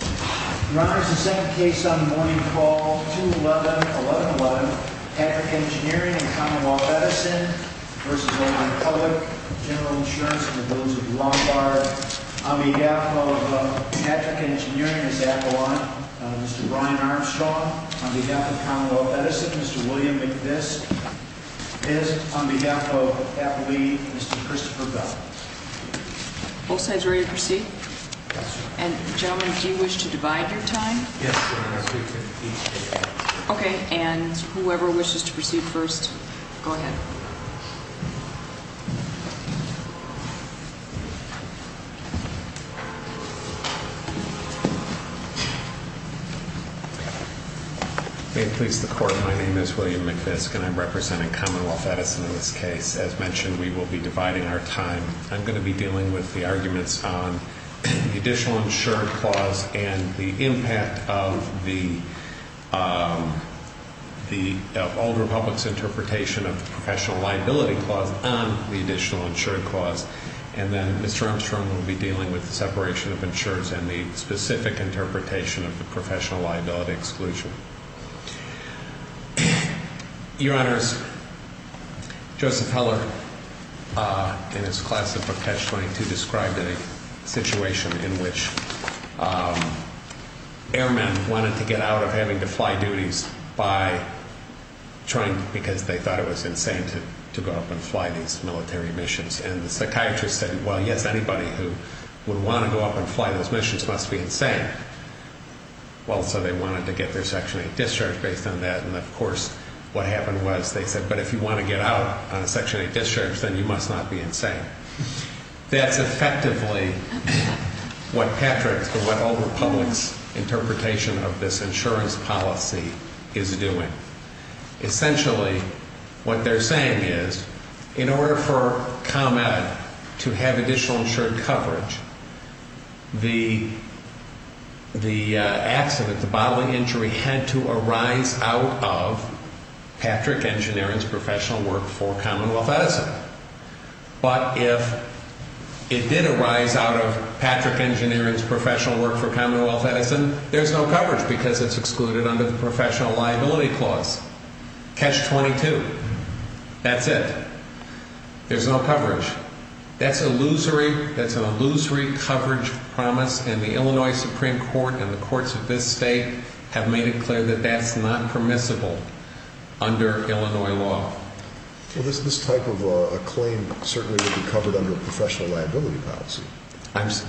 Your Honor, this is the second case on the morning call, 2-11-11-11. Patrick Engineering v. Old Republic General Insurance On behalf of Patrick Engineering, Mr. Ryan Armstrong On behalf of Commonwealth Edison, Mr. William McVist On behalf of Applebee, Mr. Christopher Bell Both sides ready to proceed? And gentlemen, do you wish to divide your time? Yes, Your Honor. Okay, and whoever wishes to proceed first, go ahead. May it please the Court, my name is William McVist and I'm representing Commonwealth Edison in this case. As mentioned, we will be dividing our time. I'm going to be dealing with the arguments on the Additional Insured Clause and the impact of the Old Republic's interpretation of the Professional Liability Clause on the Additional Insured Clause. And then Mr. Armstrong will be dealing with the separation of insurers and the specific interpretation of the Professional Liability Exclusion. Your Honors, Joseph Heller in his class of 2002 described a situation in which airmen wanted to get out of having to fly duties because they thought it was insane to go up and fly these military missions. And the psychiatrist said, well, yes, anybody who would want to go up and fly those missions must be insane. Well, so they wanted to get their Section 8 discharge based on that. And, of course, what happened was they said, but if you want to get out on a Section 8 discharge, then you must not be insane. That's effectively what Patrick's or what Old Republic's interpretation of this insurance policy is doing. Essentially, what they're saying is, in order for ComEd to have additional insured coverage, the accident, the bodily injury, had to arise out of Patrick Engineering's professional work for Commonwealth Edison. But if it did arise out of Patrick Engineering's professional work for Commonwealth Edison, there's no coverage because it's excluded under the Professional Liability Clause. Catch 22. That's it. There's no coverage. That's an illusory coverage promise, and the Illinois Supreme Court and the courts of this state have made it clear that that's not permissible under Illinois law. Well, this type of a claim certainly would be covered under a professional liability policy. I'm sorry?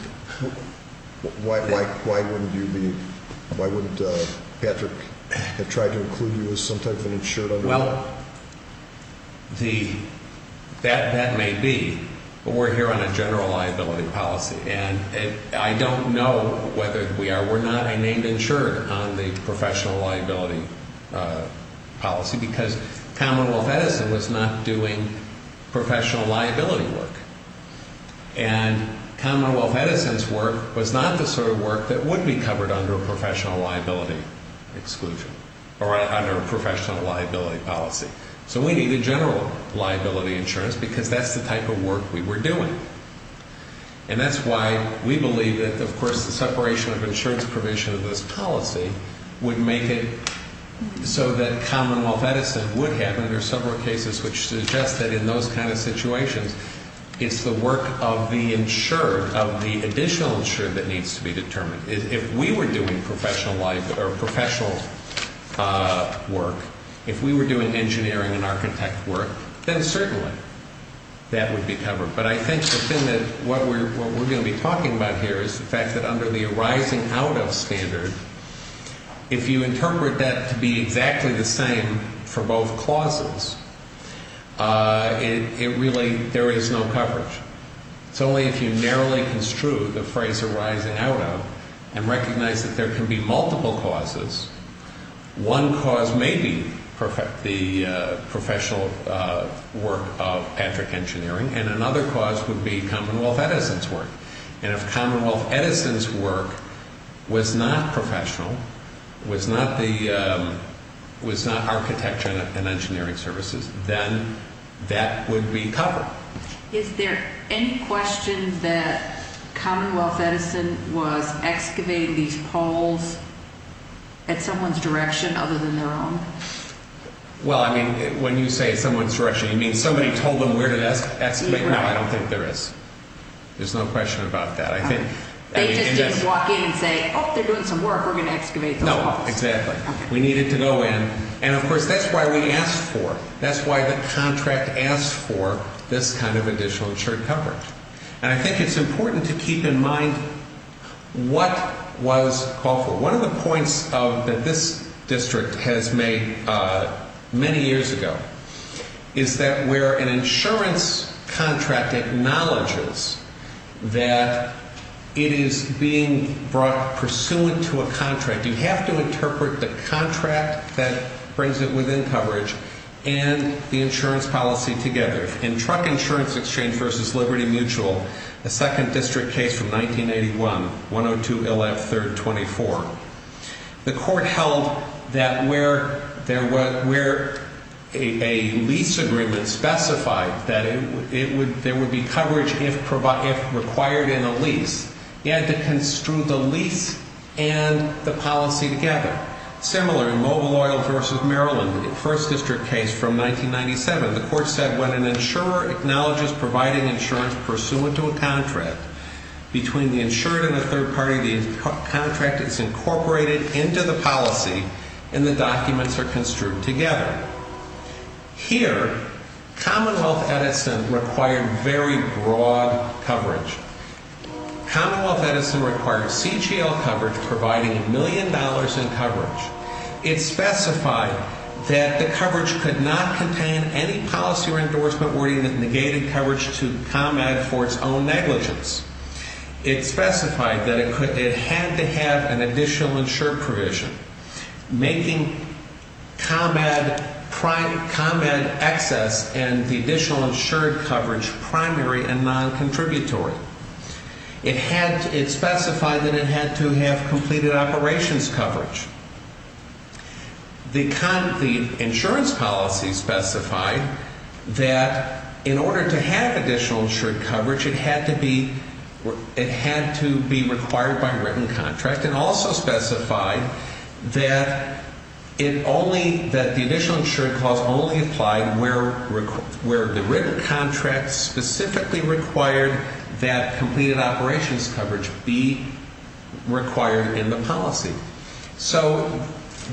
Why wouldn't you be – why wouldn't Patrick have tried to include you as some type of an insured under that? Well, that may be, but we're here on a general liability policy, and I don't know whether we are. We're not a named insured on the professional liability policy because Commonwealth Edison was not doing professional liability work. And Commonwealth Edison's work was not the sort of work that would be covered under a professional liability exclusion or under a professional liability policy. So we need a general liability insurance because that's the type of work we were doing. And that's why we believe that, of course, the separation of insurance provision of this policy would make it so that Commonwealth Edison would have, and there are several cases which suggest that in those kind of situations, it's the work of the insured, of the additional insured that needs to be determined. If we were doing professional life or professional work, if we were doing engineering and architect work, then certainly that would be covered. But I think the thing that – what we're going to be talking about here is the fact that under the arising out of standard, if you interpret that to be exactly the same for both clauses, it really – there is no coverage. It's only if you narrowly construe the phrase arising out of and recognize that there can be multiple causes. One cause may be the professional work of Patrick Engineering, and another cause would be Commonwealth Edison's work. And if Commonwealth Edison's work was not professional, was not architecture and engineering services, then that would be covered. Is there any question that Commonwealth Edison was excavating these poles at someone's direction other than their own? Well, I mean, when you say someone's direction, you mean somebody told them where to excavate? No, I don't think there is. There's no question about that. They just didn't walk in and say, oh, they're doing some work. We're going to excavate those poles. Exactly. We needed to go in. And, of course, that's why we asked for – that's why the contract asked for this kind of additional insured coverage. And I think it's important to keep in mind what was called for. One of the points that this district has made many years ago is that where an insurance contract acknowledges that it is being brought pursuant to a contract, you have to interpret the contract that brings it within coverage and the insurance policy together. In Truck Insurance Exchange v. Liberty Mutual, the second district case from 1981, 102-LF-324, the court held that where a lease agreement specified that there would be coverage if required in a lease, you had to construe the lease and the policy together. Similar in Mobile Oil v. Maryland, the first district case from 1997, the court said when an insurer acknowledges providing insurance pursuant to a contract, between the insured and the third party, the contract is incorporated into the policy and the documents are construed together. Here, Commonwealth Edison required very broad coverage. Commonwealth Edison required CGL coverage providing a million dollars in coverage. It specified that the coverage could not contain any policy or endorsement wording that negated coverage to ComEd for its own negligence. It specified that it had to have an additional insured provision. Making ComEd excess and the additional insured coverage primary and non-contributory. It specified that it had to have completed operations coverage. The insurance policy specified that in order to have additional insured coverage, it had to be required by written contract. It also specified that the additional insured clause only applied where the written contract specifically required that completed operations coverage be required in the policy. So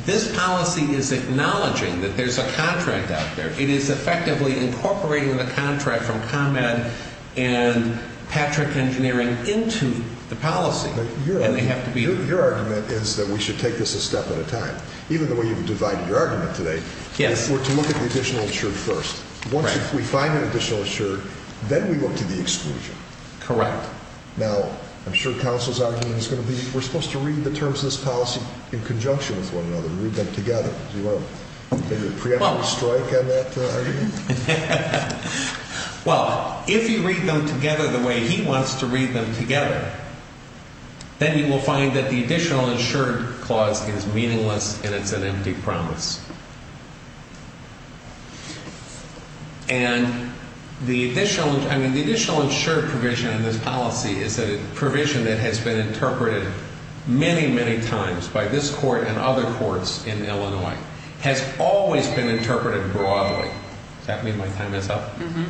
this policy is acknowledging that there's a contract out there. It is effectively incorporating the contract from ComEd and Patrick Engineering into the policy. Your argument is that we should take this a step at a time. Even the way you've divided your argument today, we're to look at the additional insured first. Once we find an additional insured, then we look to the exclusion. Correct. Now, I'm sure counsel's argument is going to be, we're supposed to read the terms of this policy in conjunction with one another. Well, if you read them together the way he wants to read them together, then you will find that the additional insured clause is meaningless and it's an empty promise. And the additional, I mean, the additional insured provision in this policy is a provision that has been interpreted many, many times by this court and other courts in Illinois, has always been interpreted broadly. Does that mean my time is up? Mm-hmm.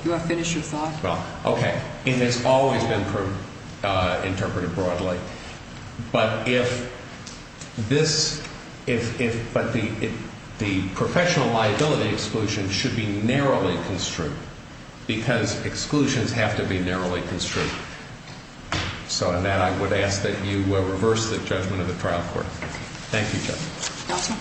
Do you want to finish your thought? Well, okay. And it's always been interpreted broadly. But if this, if, but the professional liability exclusion should be narrowly construed because exclusions have to be narrowly construed. So on that, I would ask that you reverse the judgment of the trial court. Thank you, Judge. Counsel.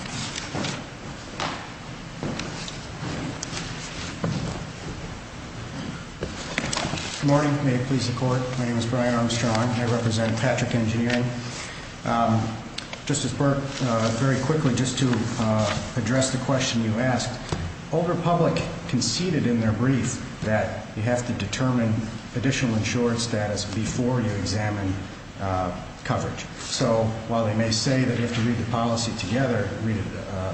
Good morning. May it please the court. My name is Brian Armstrong. I represent Patrick Engineering. Justice Burke, very quickly, just to address the question you asked, Old Republic conceded in their brief that you have to determine additional insured status before you examine coverage. So while they may say that you have to read the policy together, read it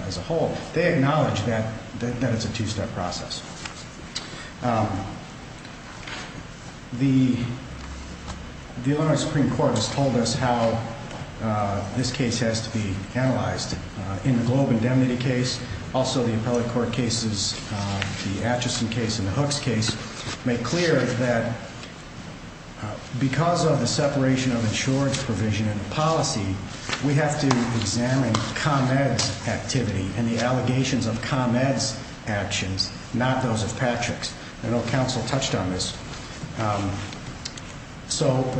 as a whole, they acknowledge that it's a two-step process. The Illinois Supreme Court has told us how this case has to be analyzed. In the Globe indemnity case, also the appellate court cases, the Atchison case and the Hooks case, make clear that because of the separation of insurance provision and policy, we have to examine ComEd's activity and the allegations of ComEd's actions, not those of Patrick's. I know counsel touched on this. But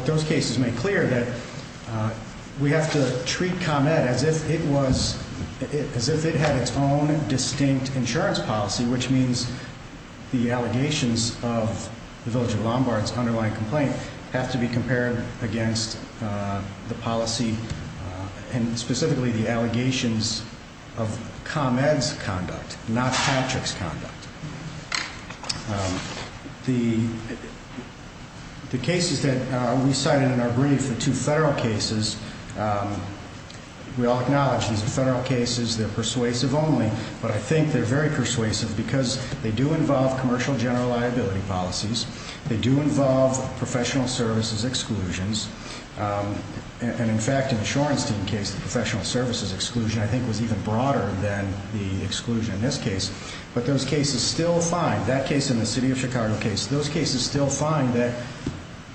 those cases make clear that we have to treat ComEd as if it had its own distinct insurance policy, which means the allegations of the Village of Lombard's underlying complaint have to be compared against the policy and specifically the allegations of ComEd's conduct, not Patrick's conduct. The cases that we cited in our brief, the two federal cases, we all acknowledge these are federal cases. They're persuasive only, but I think they're very persuasive because they do involve commercial general liability policies. They do involve professional services exclusions. And, in fact, in the Shorenstein case, the professional services exclusion, I think, was even broader than the exclusion in this case. But those cases still find, that case and the City of Chicago case, those cases still find that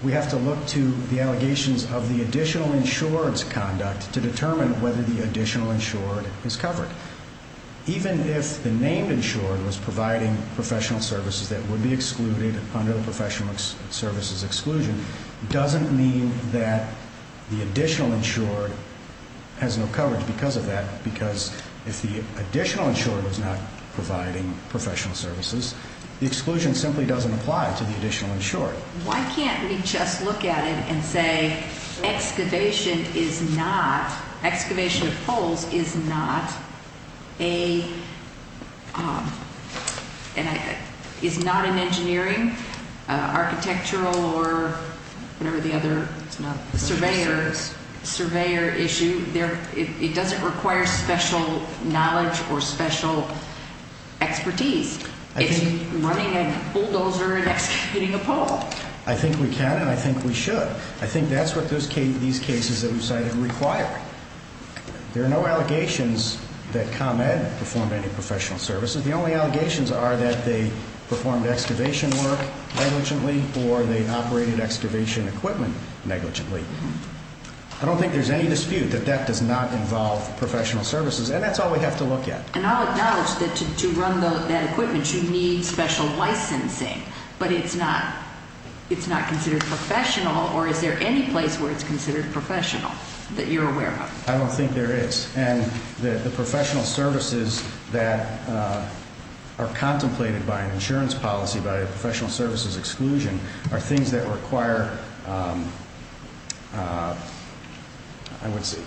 we have to look to the allegations of the additional insurance conduct to determine whether the additional insured is covered. Even if the named insured was providing professional services that would be excluded under the professional services exclusion, it doesn't mean that the additional insured has no coverage because of that, because if the additional insured was not providing professional services, the exclusion simply doesn't apply to the additional insured. Why can't we just look at it and say excavation is not, excavation of holes is not an engineering, architectural, or whatever the other, surveyor issue. It doesn't require special knowledge or special expertise. It's running a bulldozer and hitting a pole. I think we can and I think we should. I think that's what these cases that we cited require. There are no allegations that ComEd performed any professional services. The only allegations are that they performed excavation work negligently or they operated excavation equipment negligently. I don't think there's any dispute that that does not involve professional services and that's all we have to look at. And I'll acknowledge that to run that equipment you need special licensing, but it's not considered professional or is there any place where it's considered professional that you're aware of? I don't think there is. And the professional services that are contemplated by an insurance policy, by a professional services exclusion, are things that require, I would say,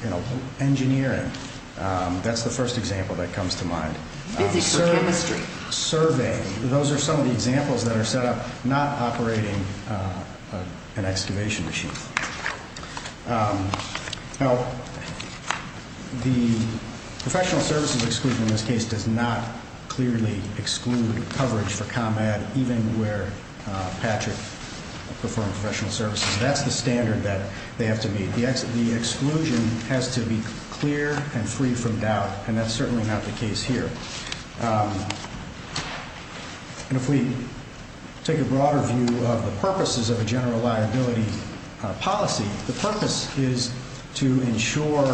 engineering. That's the first example that comes to mind. Physics or chemistry? Survey. Those are some of the examples that are set up not operating an excavation machine. Now, the professional services exclusion in this case does not clearly exclude coverage for ComEd, even where Patrick performed professional services. That's the standard that they have to meet. The exclusion has to be clear and free from doubt, and that's certainly not the case here. And if we take a broader view of the purposes of a general liability policy, the purpose is to insure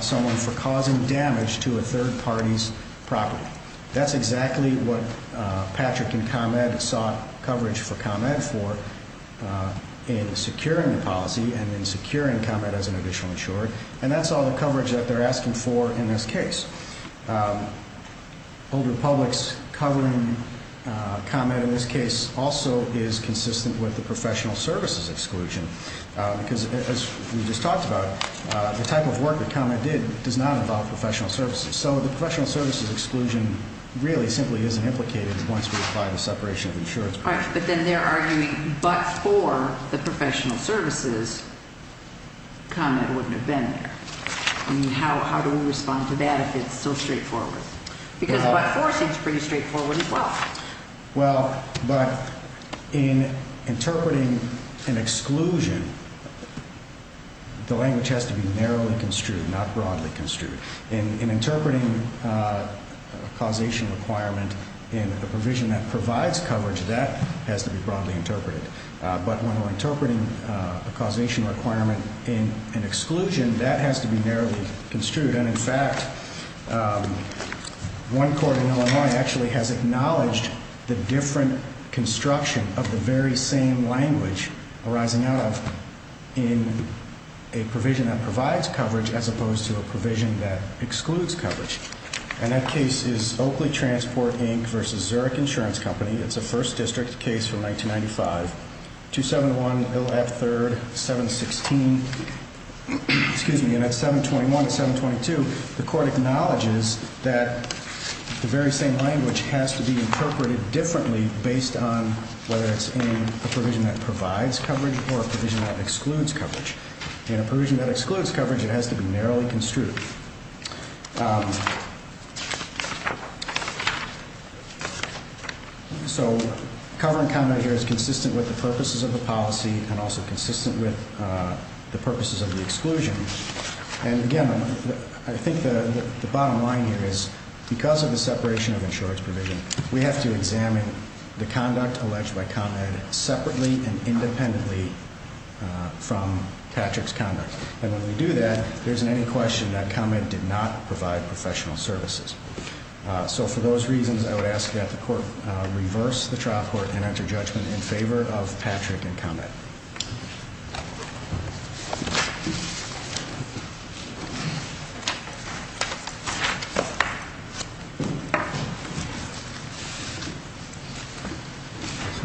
someone for causing damage to a third party's property. That's exactly what Patrick and ComEd sought coverage for ComEd for in securing the policy and in securing ComEd as an additional insurer, and that's all the coverage that they're asking for in this case. Older publics covering ComEd in this case also is consistent with the professional services exclusion, because, as we just talked about, the type of work that ComEd did does not involve professional services. So the professional services exclusion really simply isn't implicated once we apply the separation of insurance. All right, but then they're arguing, but for the professional services, ComEd wouldn't have been there. How do we respond to that if it's so straightforward? Because Part 4 seems pretty straightforward as well. Well, but in interpreting an exclusion, the language has to be narrowly construed, not broadly construed. In interpreting a causation requirement in a provision that provides coverage, that has to be broadly interpreted. But when we're interpreting a causation requirement in an exclusion, that has to be narrowly construed. And, in fact, one court in Illinois actually has acknowledged the different construction of the very same language arising out of in a provision that provides coverage as opposed to a provision that excludes coverage. And that case is Oakley Transport, Inc. v. Zurich Insurance Company. It's a 1st District case from 1995, 271 Ill. F. 3rd, 716, excuse me, Unit 721 and 722. The court acknowledges that the very same language has to be interpreted differently based on whether it's in a provision that provides coverage or a provision that excludes coverage. In a provision that excludes coverage, it has to be narrowly construed. So covering conduct here is consistent with the purposes of the policy and also consistent with the purposes of the exclusion. And, again, I think the bottom line here is, because of the separation of insurance provision, we have to examine the conduct alleged by ComEd separately and independently from Patrick's conduct. And when we do that, there isn't any question that ComEd did not provide professional services. So, for those reasons, I would ask that the court reverse the trial court and enter judgment in favor of Patrick and ComEd.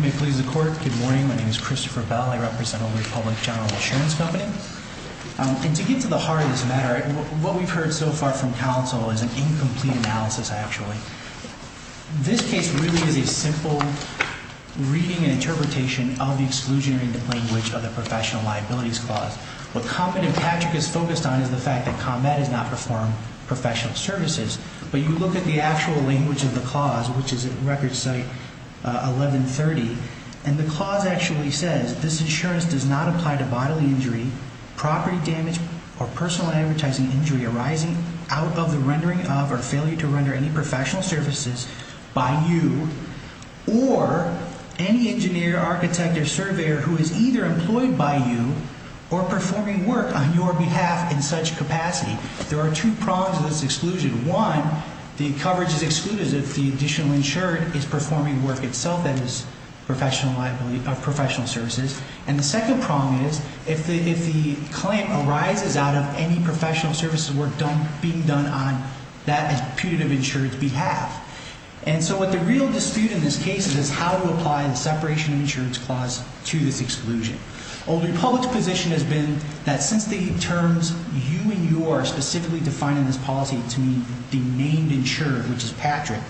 May it please the court. Good morning. My name is Christopher Bell. I represent Oakley Public General Insurance Company. And to get to the heart of this matter, what we've heard so far from counsel is an incomplete analysis, actually. This case really is a simple reading and interpretation of the exclusionary language of the professional liabilities clause. What ComEd and Patrick is focused on is the fact that ComEd has not performed professional services. But you look at the actual language of the clause, which is at record site 1130, and the clause actually says, this insurance does not apply to bodily injury, property damage, or personal advertising injury arising out of the rendering of or failure to render any professional services by you or any engineer, architect, or surveyor who is either employed by you or performing work on your behalf in such capacity. There are two prongs of this exclusion. One, the coverage is excluded if the additional insured is performing work itself that is professional liability of professional services. And the second prong is if the client arises out of any professional services work being done on that putative insured's behalf. And so what the real dispute in this case is how to apply the separation of insurance clause to this exclusion. Old Republic's position has been that since the terms you and you are specifically defining this policy to be the named insured, which is Patrick,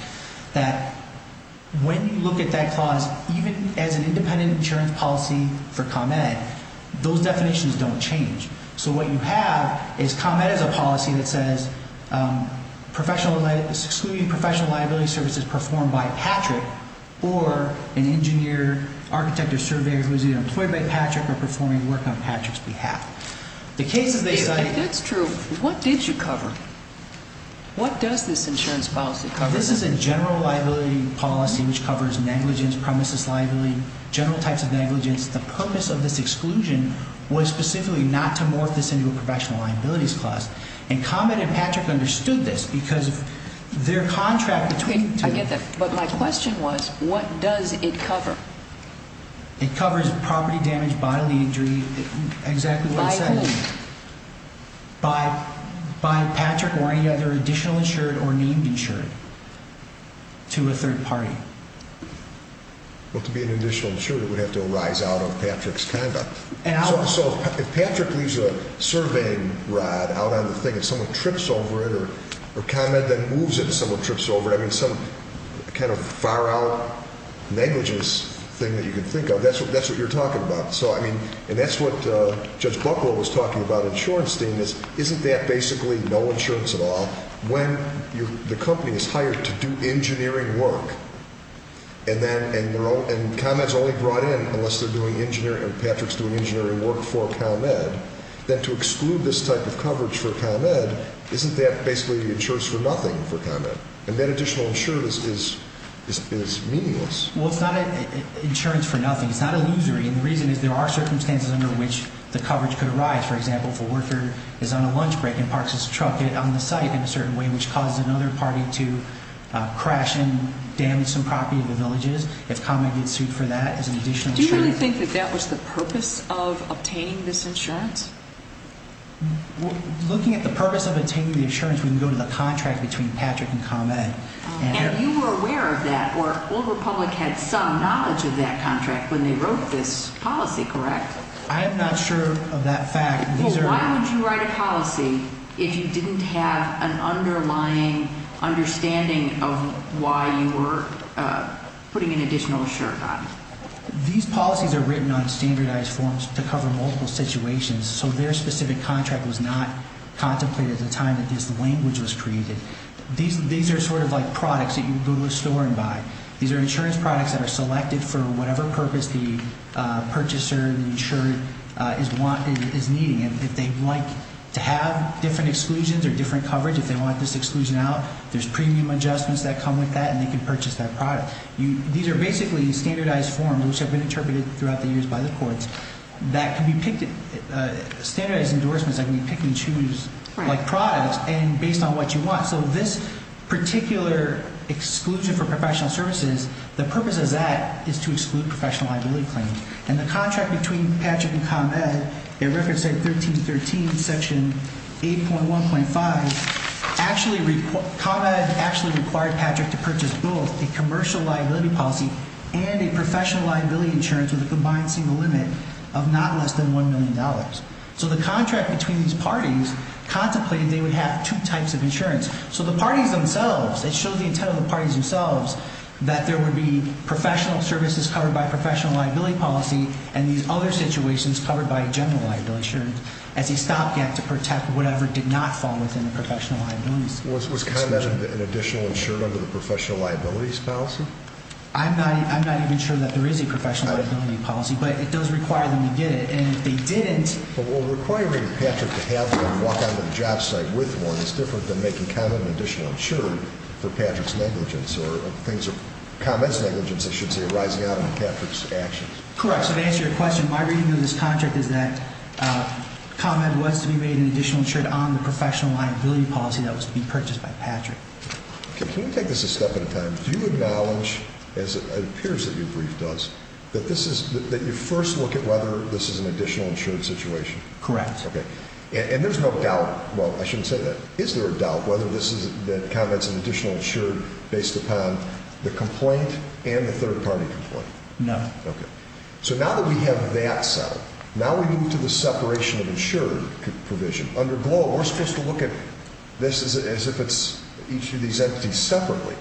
that when you look at that clause, even as an independent insurance policy for ComEd, those definitions don't change. So what you have is ComEd is a policy that says professional liability services performed by Patrick or an engineer, architect, or surveyor who is either employed by Patrick or performing work on Patrick's behalf. If that's true, what did you cover? What does this insurance policy cover? This is a general liability policy which covers negligence, premises liability, general types of negligence. The purpose of this exclusion was specifically not to morph this into a professional liabilities clause. And ComEd and Patrick understood this because of their contract between the two. But my question was, what does it cover? It covers property damage, bodily injury, exactly what I said. By whom? By Patrick or any other additional insured or named insured to a third party. Well, to be an additional insured, it would have to arise out of Patrick's conduct. So if Patrick leaves a surveying rod out on the thing and someone trips over it or ComEd then moves it and someone trips over it, I mean some kind of far-out negligence thing that you can think of. That's what you're talking about. So, I mean, and that's what Judge Buckwell was talking about in Shorenstein is, isn't that basically no insurance at all when the company is hired to do engineering work and ComEd is only brought in unless they're doing engineering or Patrick's doing engineering work for ComEd, then to exclude this type of coverage for ComEd, isn't that basically insurance for nothing for ComEd? And that additional insurance is meaningless. Well, it's not insurance for nothing. It's not illusory. And the reason is there are circumstances under which the coverage could arise. For example, if a worker is on a lunch break and parks his truck on the site in a certain way, which causes another party to crash and damage some property in the villages, if ComEd gets sued for that as an additional insurance. Looking at the purpose of obtaining the insurance, we can go to the contract between Patrick and ComEd. And you were aware of that, or Old Republic had some knowledge of that contract when they wrote this policy, correct? I am not sure of that fact. Well, why would you write a policy if you didn't have an underlying understanding of why you were putting an additional insurance on it? These policies are written on standardized forms to cover multiple situations, so their specific contract was not contemplated at the time that this language was created. These are sort of like products that you go to a store and buy. These are insurance products that are selected for whatever purpose the purchaser, the insured, is needing. And if they'd like to have different exclusions or different coverage, if they want this exclusion out, there's premium adjustments that come with that, and they can purchase that product. These are basically standardized forms, which have been interpreted throughout the years by the courts, standardized endorsements that can be picked and choose like products and based on what you want. So this particular exclusion for professional services, the purpose of that is to exclude professional liability claims. And the contract between Patrick and ComEd, at Record State 1313, Section 8.1.5, ComEd actually required Patrick to purchase both a commercial liability policy and a professional liability insurance with a combined single limit of not less than $1 million. So the contract between these parties contemplated they would have two types of insurance. So the parties themselves, it shows the intent of the parties themselves that there would be professional services covered by a professional liability policy and these other situations covered by a general liability insurance as a stopgap to protect whatever did not fall within the professional liability scheme. Was ComEd an additional insurer under the professional liabilities policy? I'm not even sure that there is a professional liability policy, but it does require them to get it, and if they didn't Well, requiring Patrick to walk onto the job site with one is different than making ComEd an additional insurer for Patrick's negligence or ComEd's negligence, I should say, arising out of Patrick's actions. Correct. So to answer your question, my reading of this contract is that ComEd was to be made an additional insurer on the professional liability policy that was to be purchased by Patrick. Can we take this a step at a time? Do you acknowledge, as it appears that your brief does, that you first look at whether this is an additional insured situation? Correct. Okay. And there's no doubt, well, I shouldn't say that. Is there a doubt whether this is, that ComEd's an additional insured based upon the complaint and the third-party complaint? No. Okay. So now that we have that settled, now we move to the separation of insured provision. Under GLOBE, we're supposed to look at this as if it's each of these entities separately,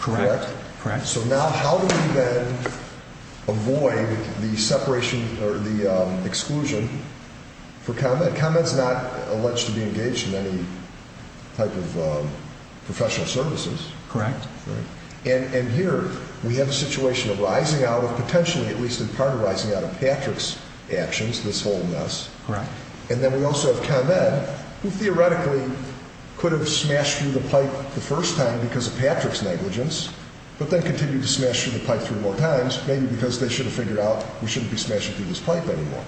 correct? Correct. So now how do we then avoid the separation or the exclusion for ComEd? ComEd's not alleged to be engaged in any type of professional services. Correct. And here we have a situation arising out of, potentially, at least in part, arising out of Patrick's actions, this whole mess. Correct. And then we also have ComEd, who theoretically could have smashed through the pipe the first time because of Patrick's negligence, but then continued to smash through the pipe three more times, maybe because they should have figured out we shouldn't be smashing through this pipe anymore.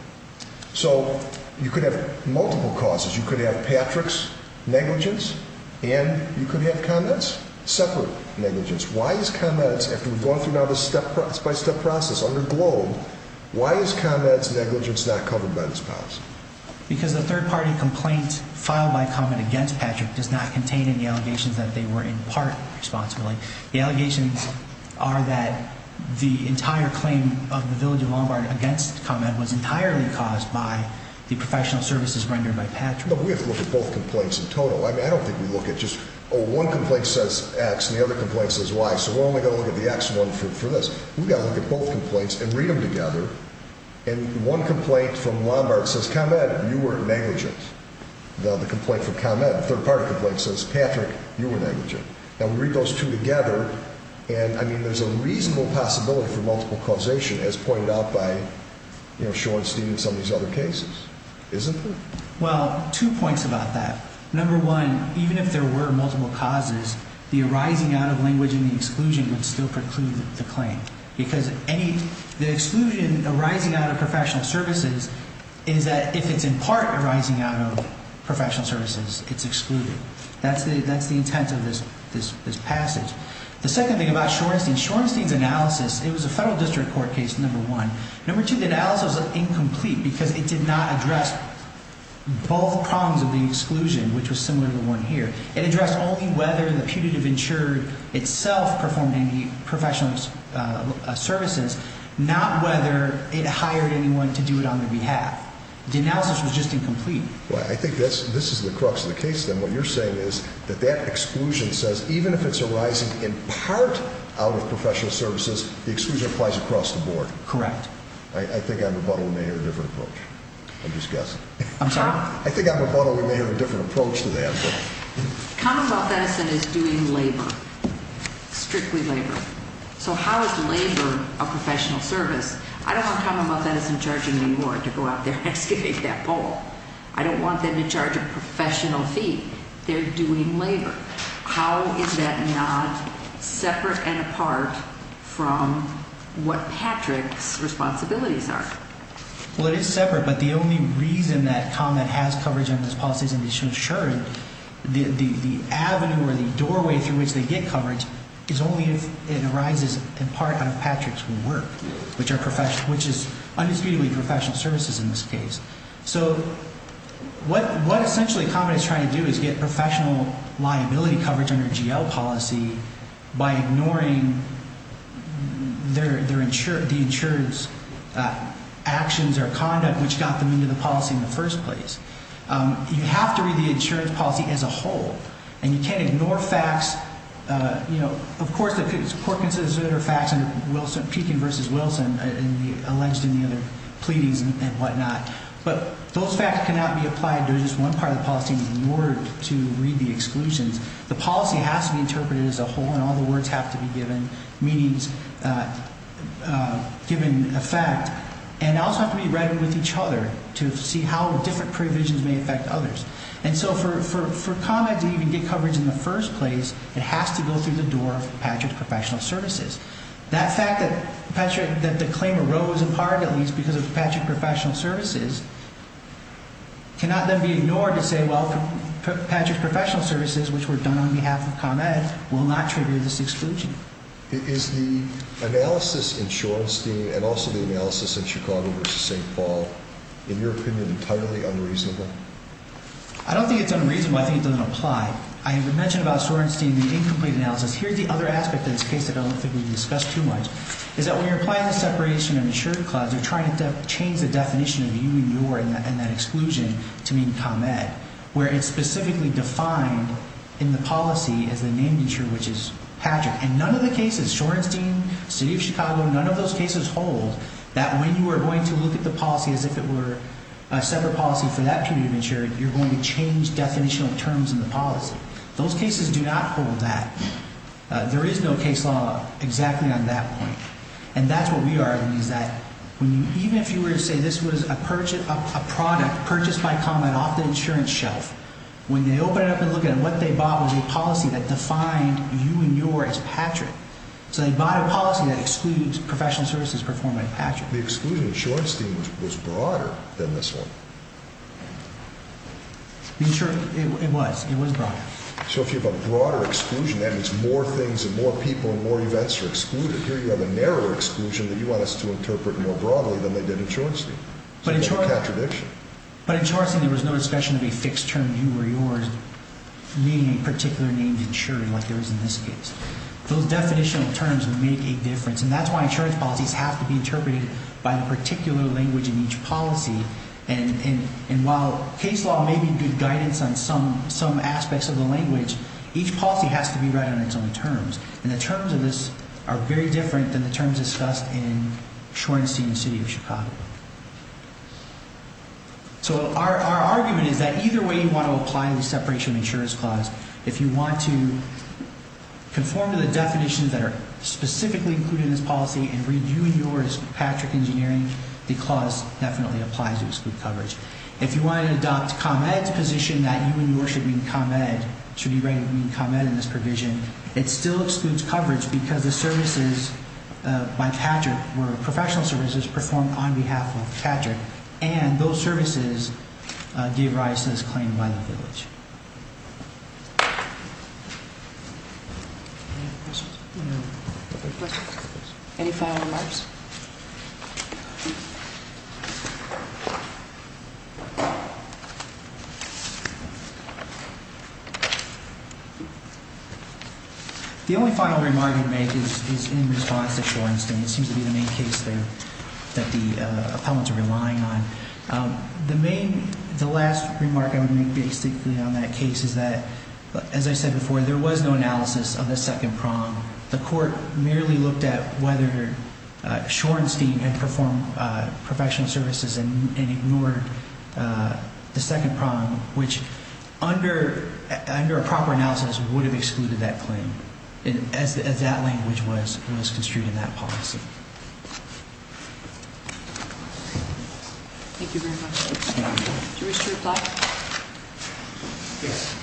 So you could have multiple causes. You could have Patrick's negligence and you could have ComEd's separate negligence. Why is ComEd's, after we've gone through now this step-by-step process under GLOBE, why is ComEd's negligence not covered by this policy? Because the third-party complaint filed by ComEd against Patrick does not contain any allegations that they were in part responsible. The allegations are that the entire claim of the Village of Lombard against ComEd was entirely caused by the professional services rendered by Patrick. But we have to look at both complaints in total. I mean, I don't think we look at just, oh, one complaint says X and the other complaint says Y, so we're only going to look at the X one for this. We've got to look at both complaints and read them together. And one complaint from Lombard says, ComEd, you were negligent. The other complaint from ComEd, the third-party complaint, says, Patrick, you were negligent. Now, we read those two together, and, I mean, there's a reasonable possibility for multiple causation, as pointed out by, you know, Sean, Steve, and some of these other cases, isn't there? Well, two points about that. Number one, even if there were multiple causes, the arising out of language and the exclusion would still preclude the claim. Because any – the exclusion arising out of professional services is that if it's in part arising out of professional services, it's excluded. That's the intent of this passage. The second thing about Shorenstein, Shorenstein's analysis, it was a federal district court case, number one. Number two, the analysis was incomplete because it did not address both prongs of the exclusion, which was similar to the one here. It addressed only whether the putative insurer itself performed any professional services, not whether it hired anyone to do it on their behalf. The analysis was just incomplete. Well, I think this is the crux of the case, then. What you're saying is that that exclusion says even if it's arising in part out of professional services, the exclusion applies across the board. Correct. I think I'm a butthole. We may have a different approach. I'm just guessing. I'm sorry? I think I'm a butthole. We may have a different approach to that. Commonwealth Edison is doing labor, strictly labor. So how is labor a professional service? I don't want Commonwealth Edison charging me more to go out there and excavate that pole. I don't want them to charge a professional fee. They're doing labor. How is that not separate and apart from what Patrick's responsibilities are? Well, it is separate, but the only reason that ComEd has coverage under this policy is to ensure the avenue or the doorway through which they get coverage is only if it arises in part out of Patrick's work, which is undisputedly professional services in this case. So what essentially ComEd is trying to do is get professional liability coverage under GL policy by ignoring the insurance actions or conduct which got them into the policy in the first place. You have to read the insurance policy as a whole, and you can't ignore facts. You know, of course, there are facts under Pekin v. Wilson, alleged in the other pleadings and whatnot. But those facts cannot be applied to just one part of the policy in order to read the exclusions. The policy has to be interpreted as a whole, and all the words have to be given, meaning given effect. And they also have to be read with each other to see how different provisions may affect others. And so for ComEd to even get coverage in the first place, it has to go through the door of Patrick's professional services. That fact that the claim arose in part, at least, because of Patrick's professional services cannot then be ignored to say, well, Patrick's professional services, which were done on behalf of ComEd, will not trigger this exclusion. Is the analysis in Shorenstein and also the analysis in Chicago v. St. Paul, in your opinion, entirely unreasonable? I don't think it's unreasonable. I think it doesn't apply. I have mentioned about Shorenstein the incomplete analysis. Here's the other aspect of this case that I don't think we've discussed too much, is that when you're applying the separation of insured clubs, you're trying to change the definition of you and your and that exclusion to mean ComEd, where it's specifically defined in the policy as the named insured, which is Patrick. And none of the cases, Shorenstein, City of Chicago, none of those cases hold that when you are going to look at the policy as if it were a separate policy for that period of insured, you're going to change definitional terms in the policy. Those cases do not hold that. There is no case law exactly on that point. And that's what we argue, is that even if you were to say this was a product purchased by ComEd off the insurance shelf, when they open it up and look at it, what they bought was a policy that defined you and your as Patrick. So they bought a policy that excludes professional services performed by Patrick. The exclusion in Shorenstein was broader than this one. It was. It was broader. So if you have a broader exclusion, that means more things and more people and more events are excluded. Here you have a narrower exclusion that you want us to interpret more broadly than they did in Shorenstein. But in Shorenstein, there was no discussion of a fixed term, you or yours, meaning a particular named insured like there is in this case. Those definitional terms make a difference. And that's why insurance policies have to be interpreted by a particular language in each policy. And while case law may be good guidance on some aspects of the language, each policy has to be read on its own terms. And the terms of this are very different than the terms discussed in Shorenstein and the city of Chicago. So our argument is that either way you want to apply the separation of insurance clause, if you want to conform to the definitions that are specifically included in this policy and read you and yours as Patrick Engineering, the clause definitely applies. You exclude coverage. If you want to adopt ComEd's position that you and yours should mean ComEd, should be ready to mean ComEd in this provision, it still excludes coverage because the services by Patrick were professional services performed on behalf of Patrick. And those services give rise to this claim by the village. Any final remarks? The only final remark I would make is in response to Shorenstein. It seems to be the main case there that the appellants are relying on. The main, the last remark I would make basically on Shorenstein is that I think it's important for us to make sure that we have a clear understanding of what we're talking about. The only thing I would say on that case is that, as I said before, there was no analysis of the second prong. The court merely looked at whether Shorenstein had performed professional services and ignored the second prong, which under a proper analysis would have excluded that claim as that language was construed in that policy. Thank you very much. Do you wish to reply? Yes.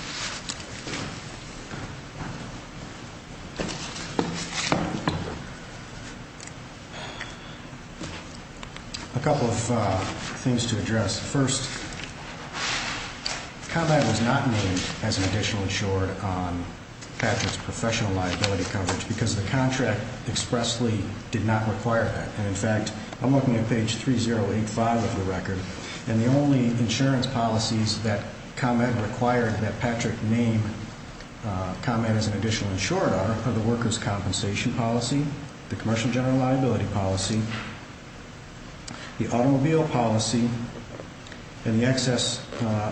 A couple of things to address. First, ComEd was not named as an additional insured on Patrick's professional liability coverage because the contract expressly did not require that. In fact, I'm looking at page 3085 of the record, and the only insurance policies that ComEd required that Patrick name ComEd as an additional insured on are the workers' compensation policy, the commercial general liability policy, the automobile policy, and the excess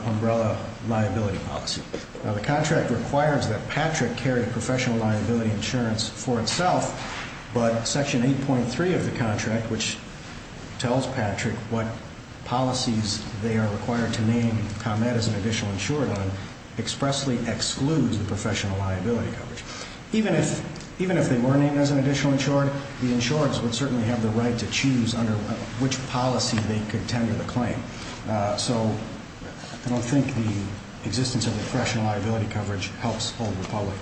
umbrella liability policy. Now, the contract requires that Patrick carry professional liability insurance for itself, but section 8.3 of the contract, which tells Patrick what policies they are required to name ComEd as an additional insured on, expressly excludes the professional liability coverage. Even if they were named as an additional insured, the insurers would certainly have the right to choose under which policy they could tender the claim. So I don't think the existence of the professional liability coverage helps Old Republic.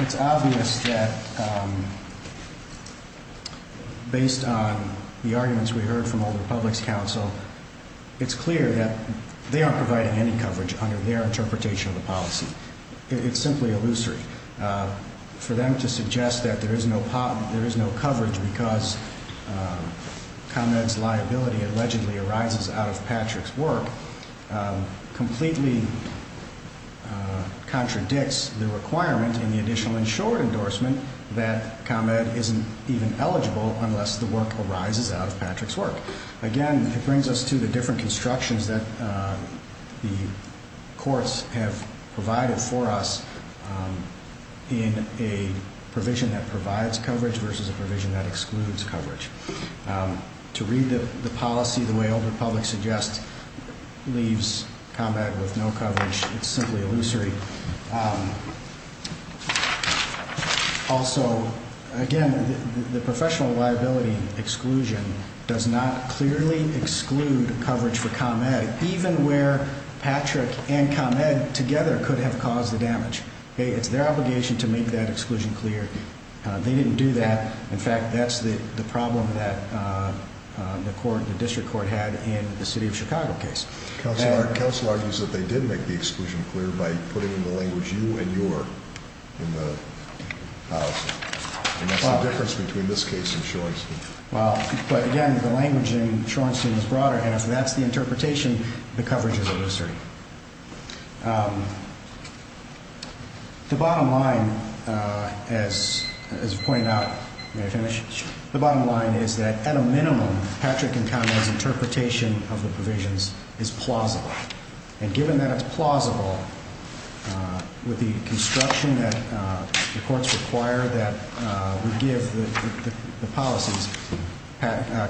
It's obvious that based on the arguments we heard from Old Republic's counsel, it's clear that they aren't providing any coverage under their interpretation of the policy. It's simply illusory. For them to suggest that there is no coverage because ComEd's liability allegedly arises out of Patrick's work completely contradicts the requirement in the additional insured endorsement that ComEd isn't even eligible unless the work arises out of Patrick's work. Again, it brings us to the different constructions that the courts have provided for us in a provision that provides coverage versus a provision that excludes coverage. To read the policy the way Old Republic suggests leaves ComEd with no coverage. It's simply illusory. Also, again, the professional liability exclusion does not clearly exclude coverage for ComEd, even where Patrick and ComEd together could have caused the damage. It's their obligation to make that exclusion clear. They didn't do that. In fact, that's the problem that the district court had in the City of Chicago case. Counsel argues that they did make the exclusion clear by putting in the language, you and your, in the policy. And that's the difference between this case and Shorenstein. Well, but again, the language in Shorenstein is broader, and if that's the interpretation, the coverage is illusory. The bottom line, as pointed out, may I finish? Sure. The bottom line is that, at a minimum, Patrick and ComEd's interpretation of the provisions is plausible. And given that it's plausible, with the construction that the courts require that we give the policies,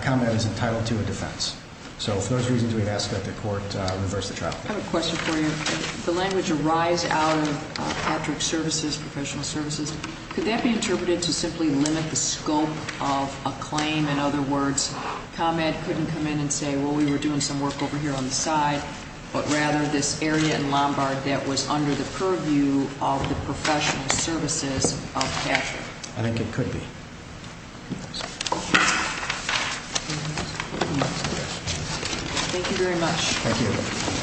ComEd is entitled to a defense. So, for those reasons, we'd ask that the court reverse the trial. I have a question for you. If the language arrives out of Patrick's services, professional services, could that be interpreted to simply limit the scope of a claim? In other words, ComEd couldn't come in and say, well, we were doing some work over here on the side, but rather this area in Lombard that was under the purview of the professional services of Patrick. I think it could be. Thank you very much. Thank you.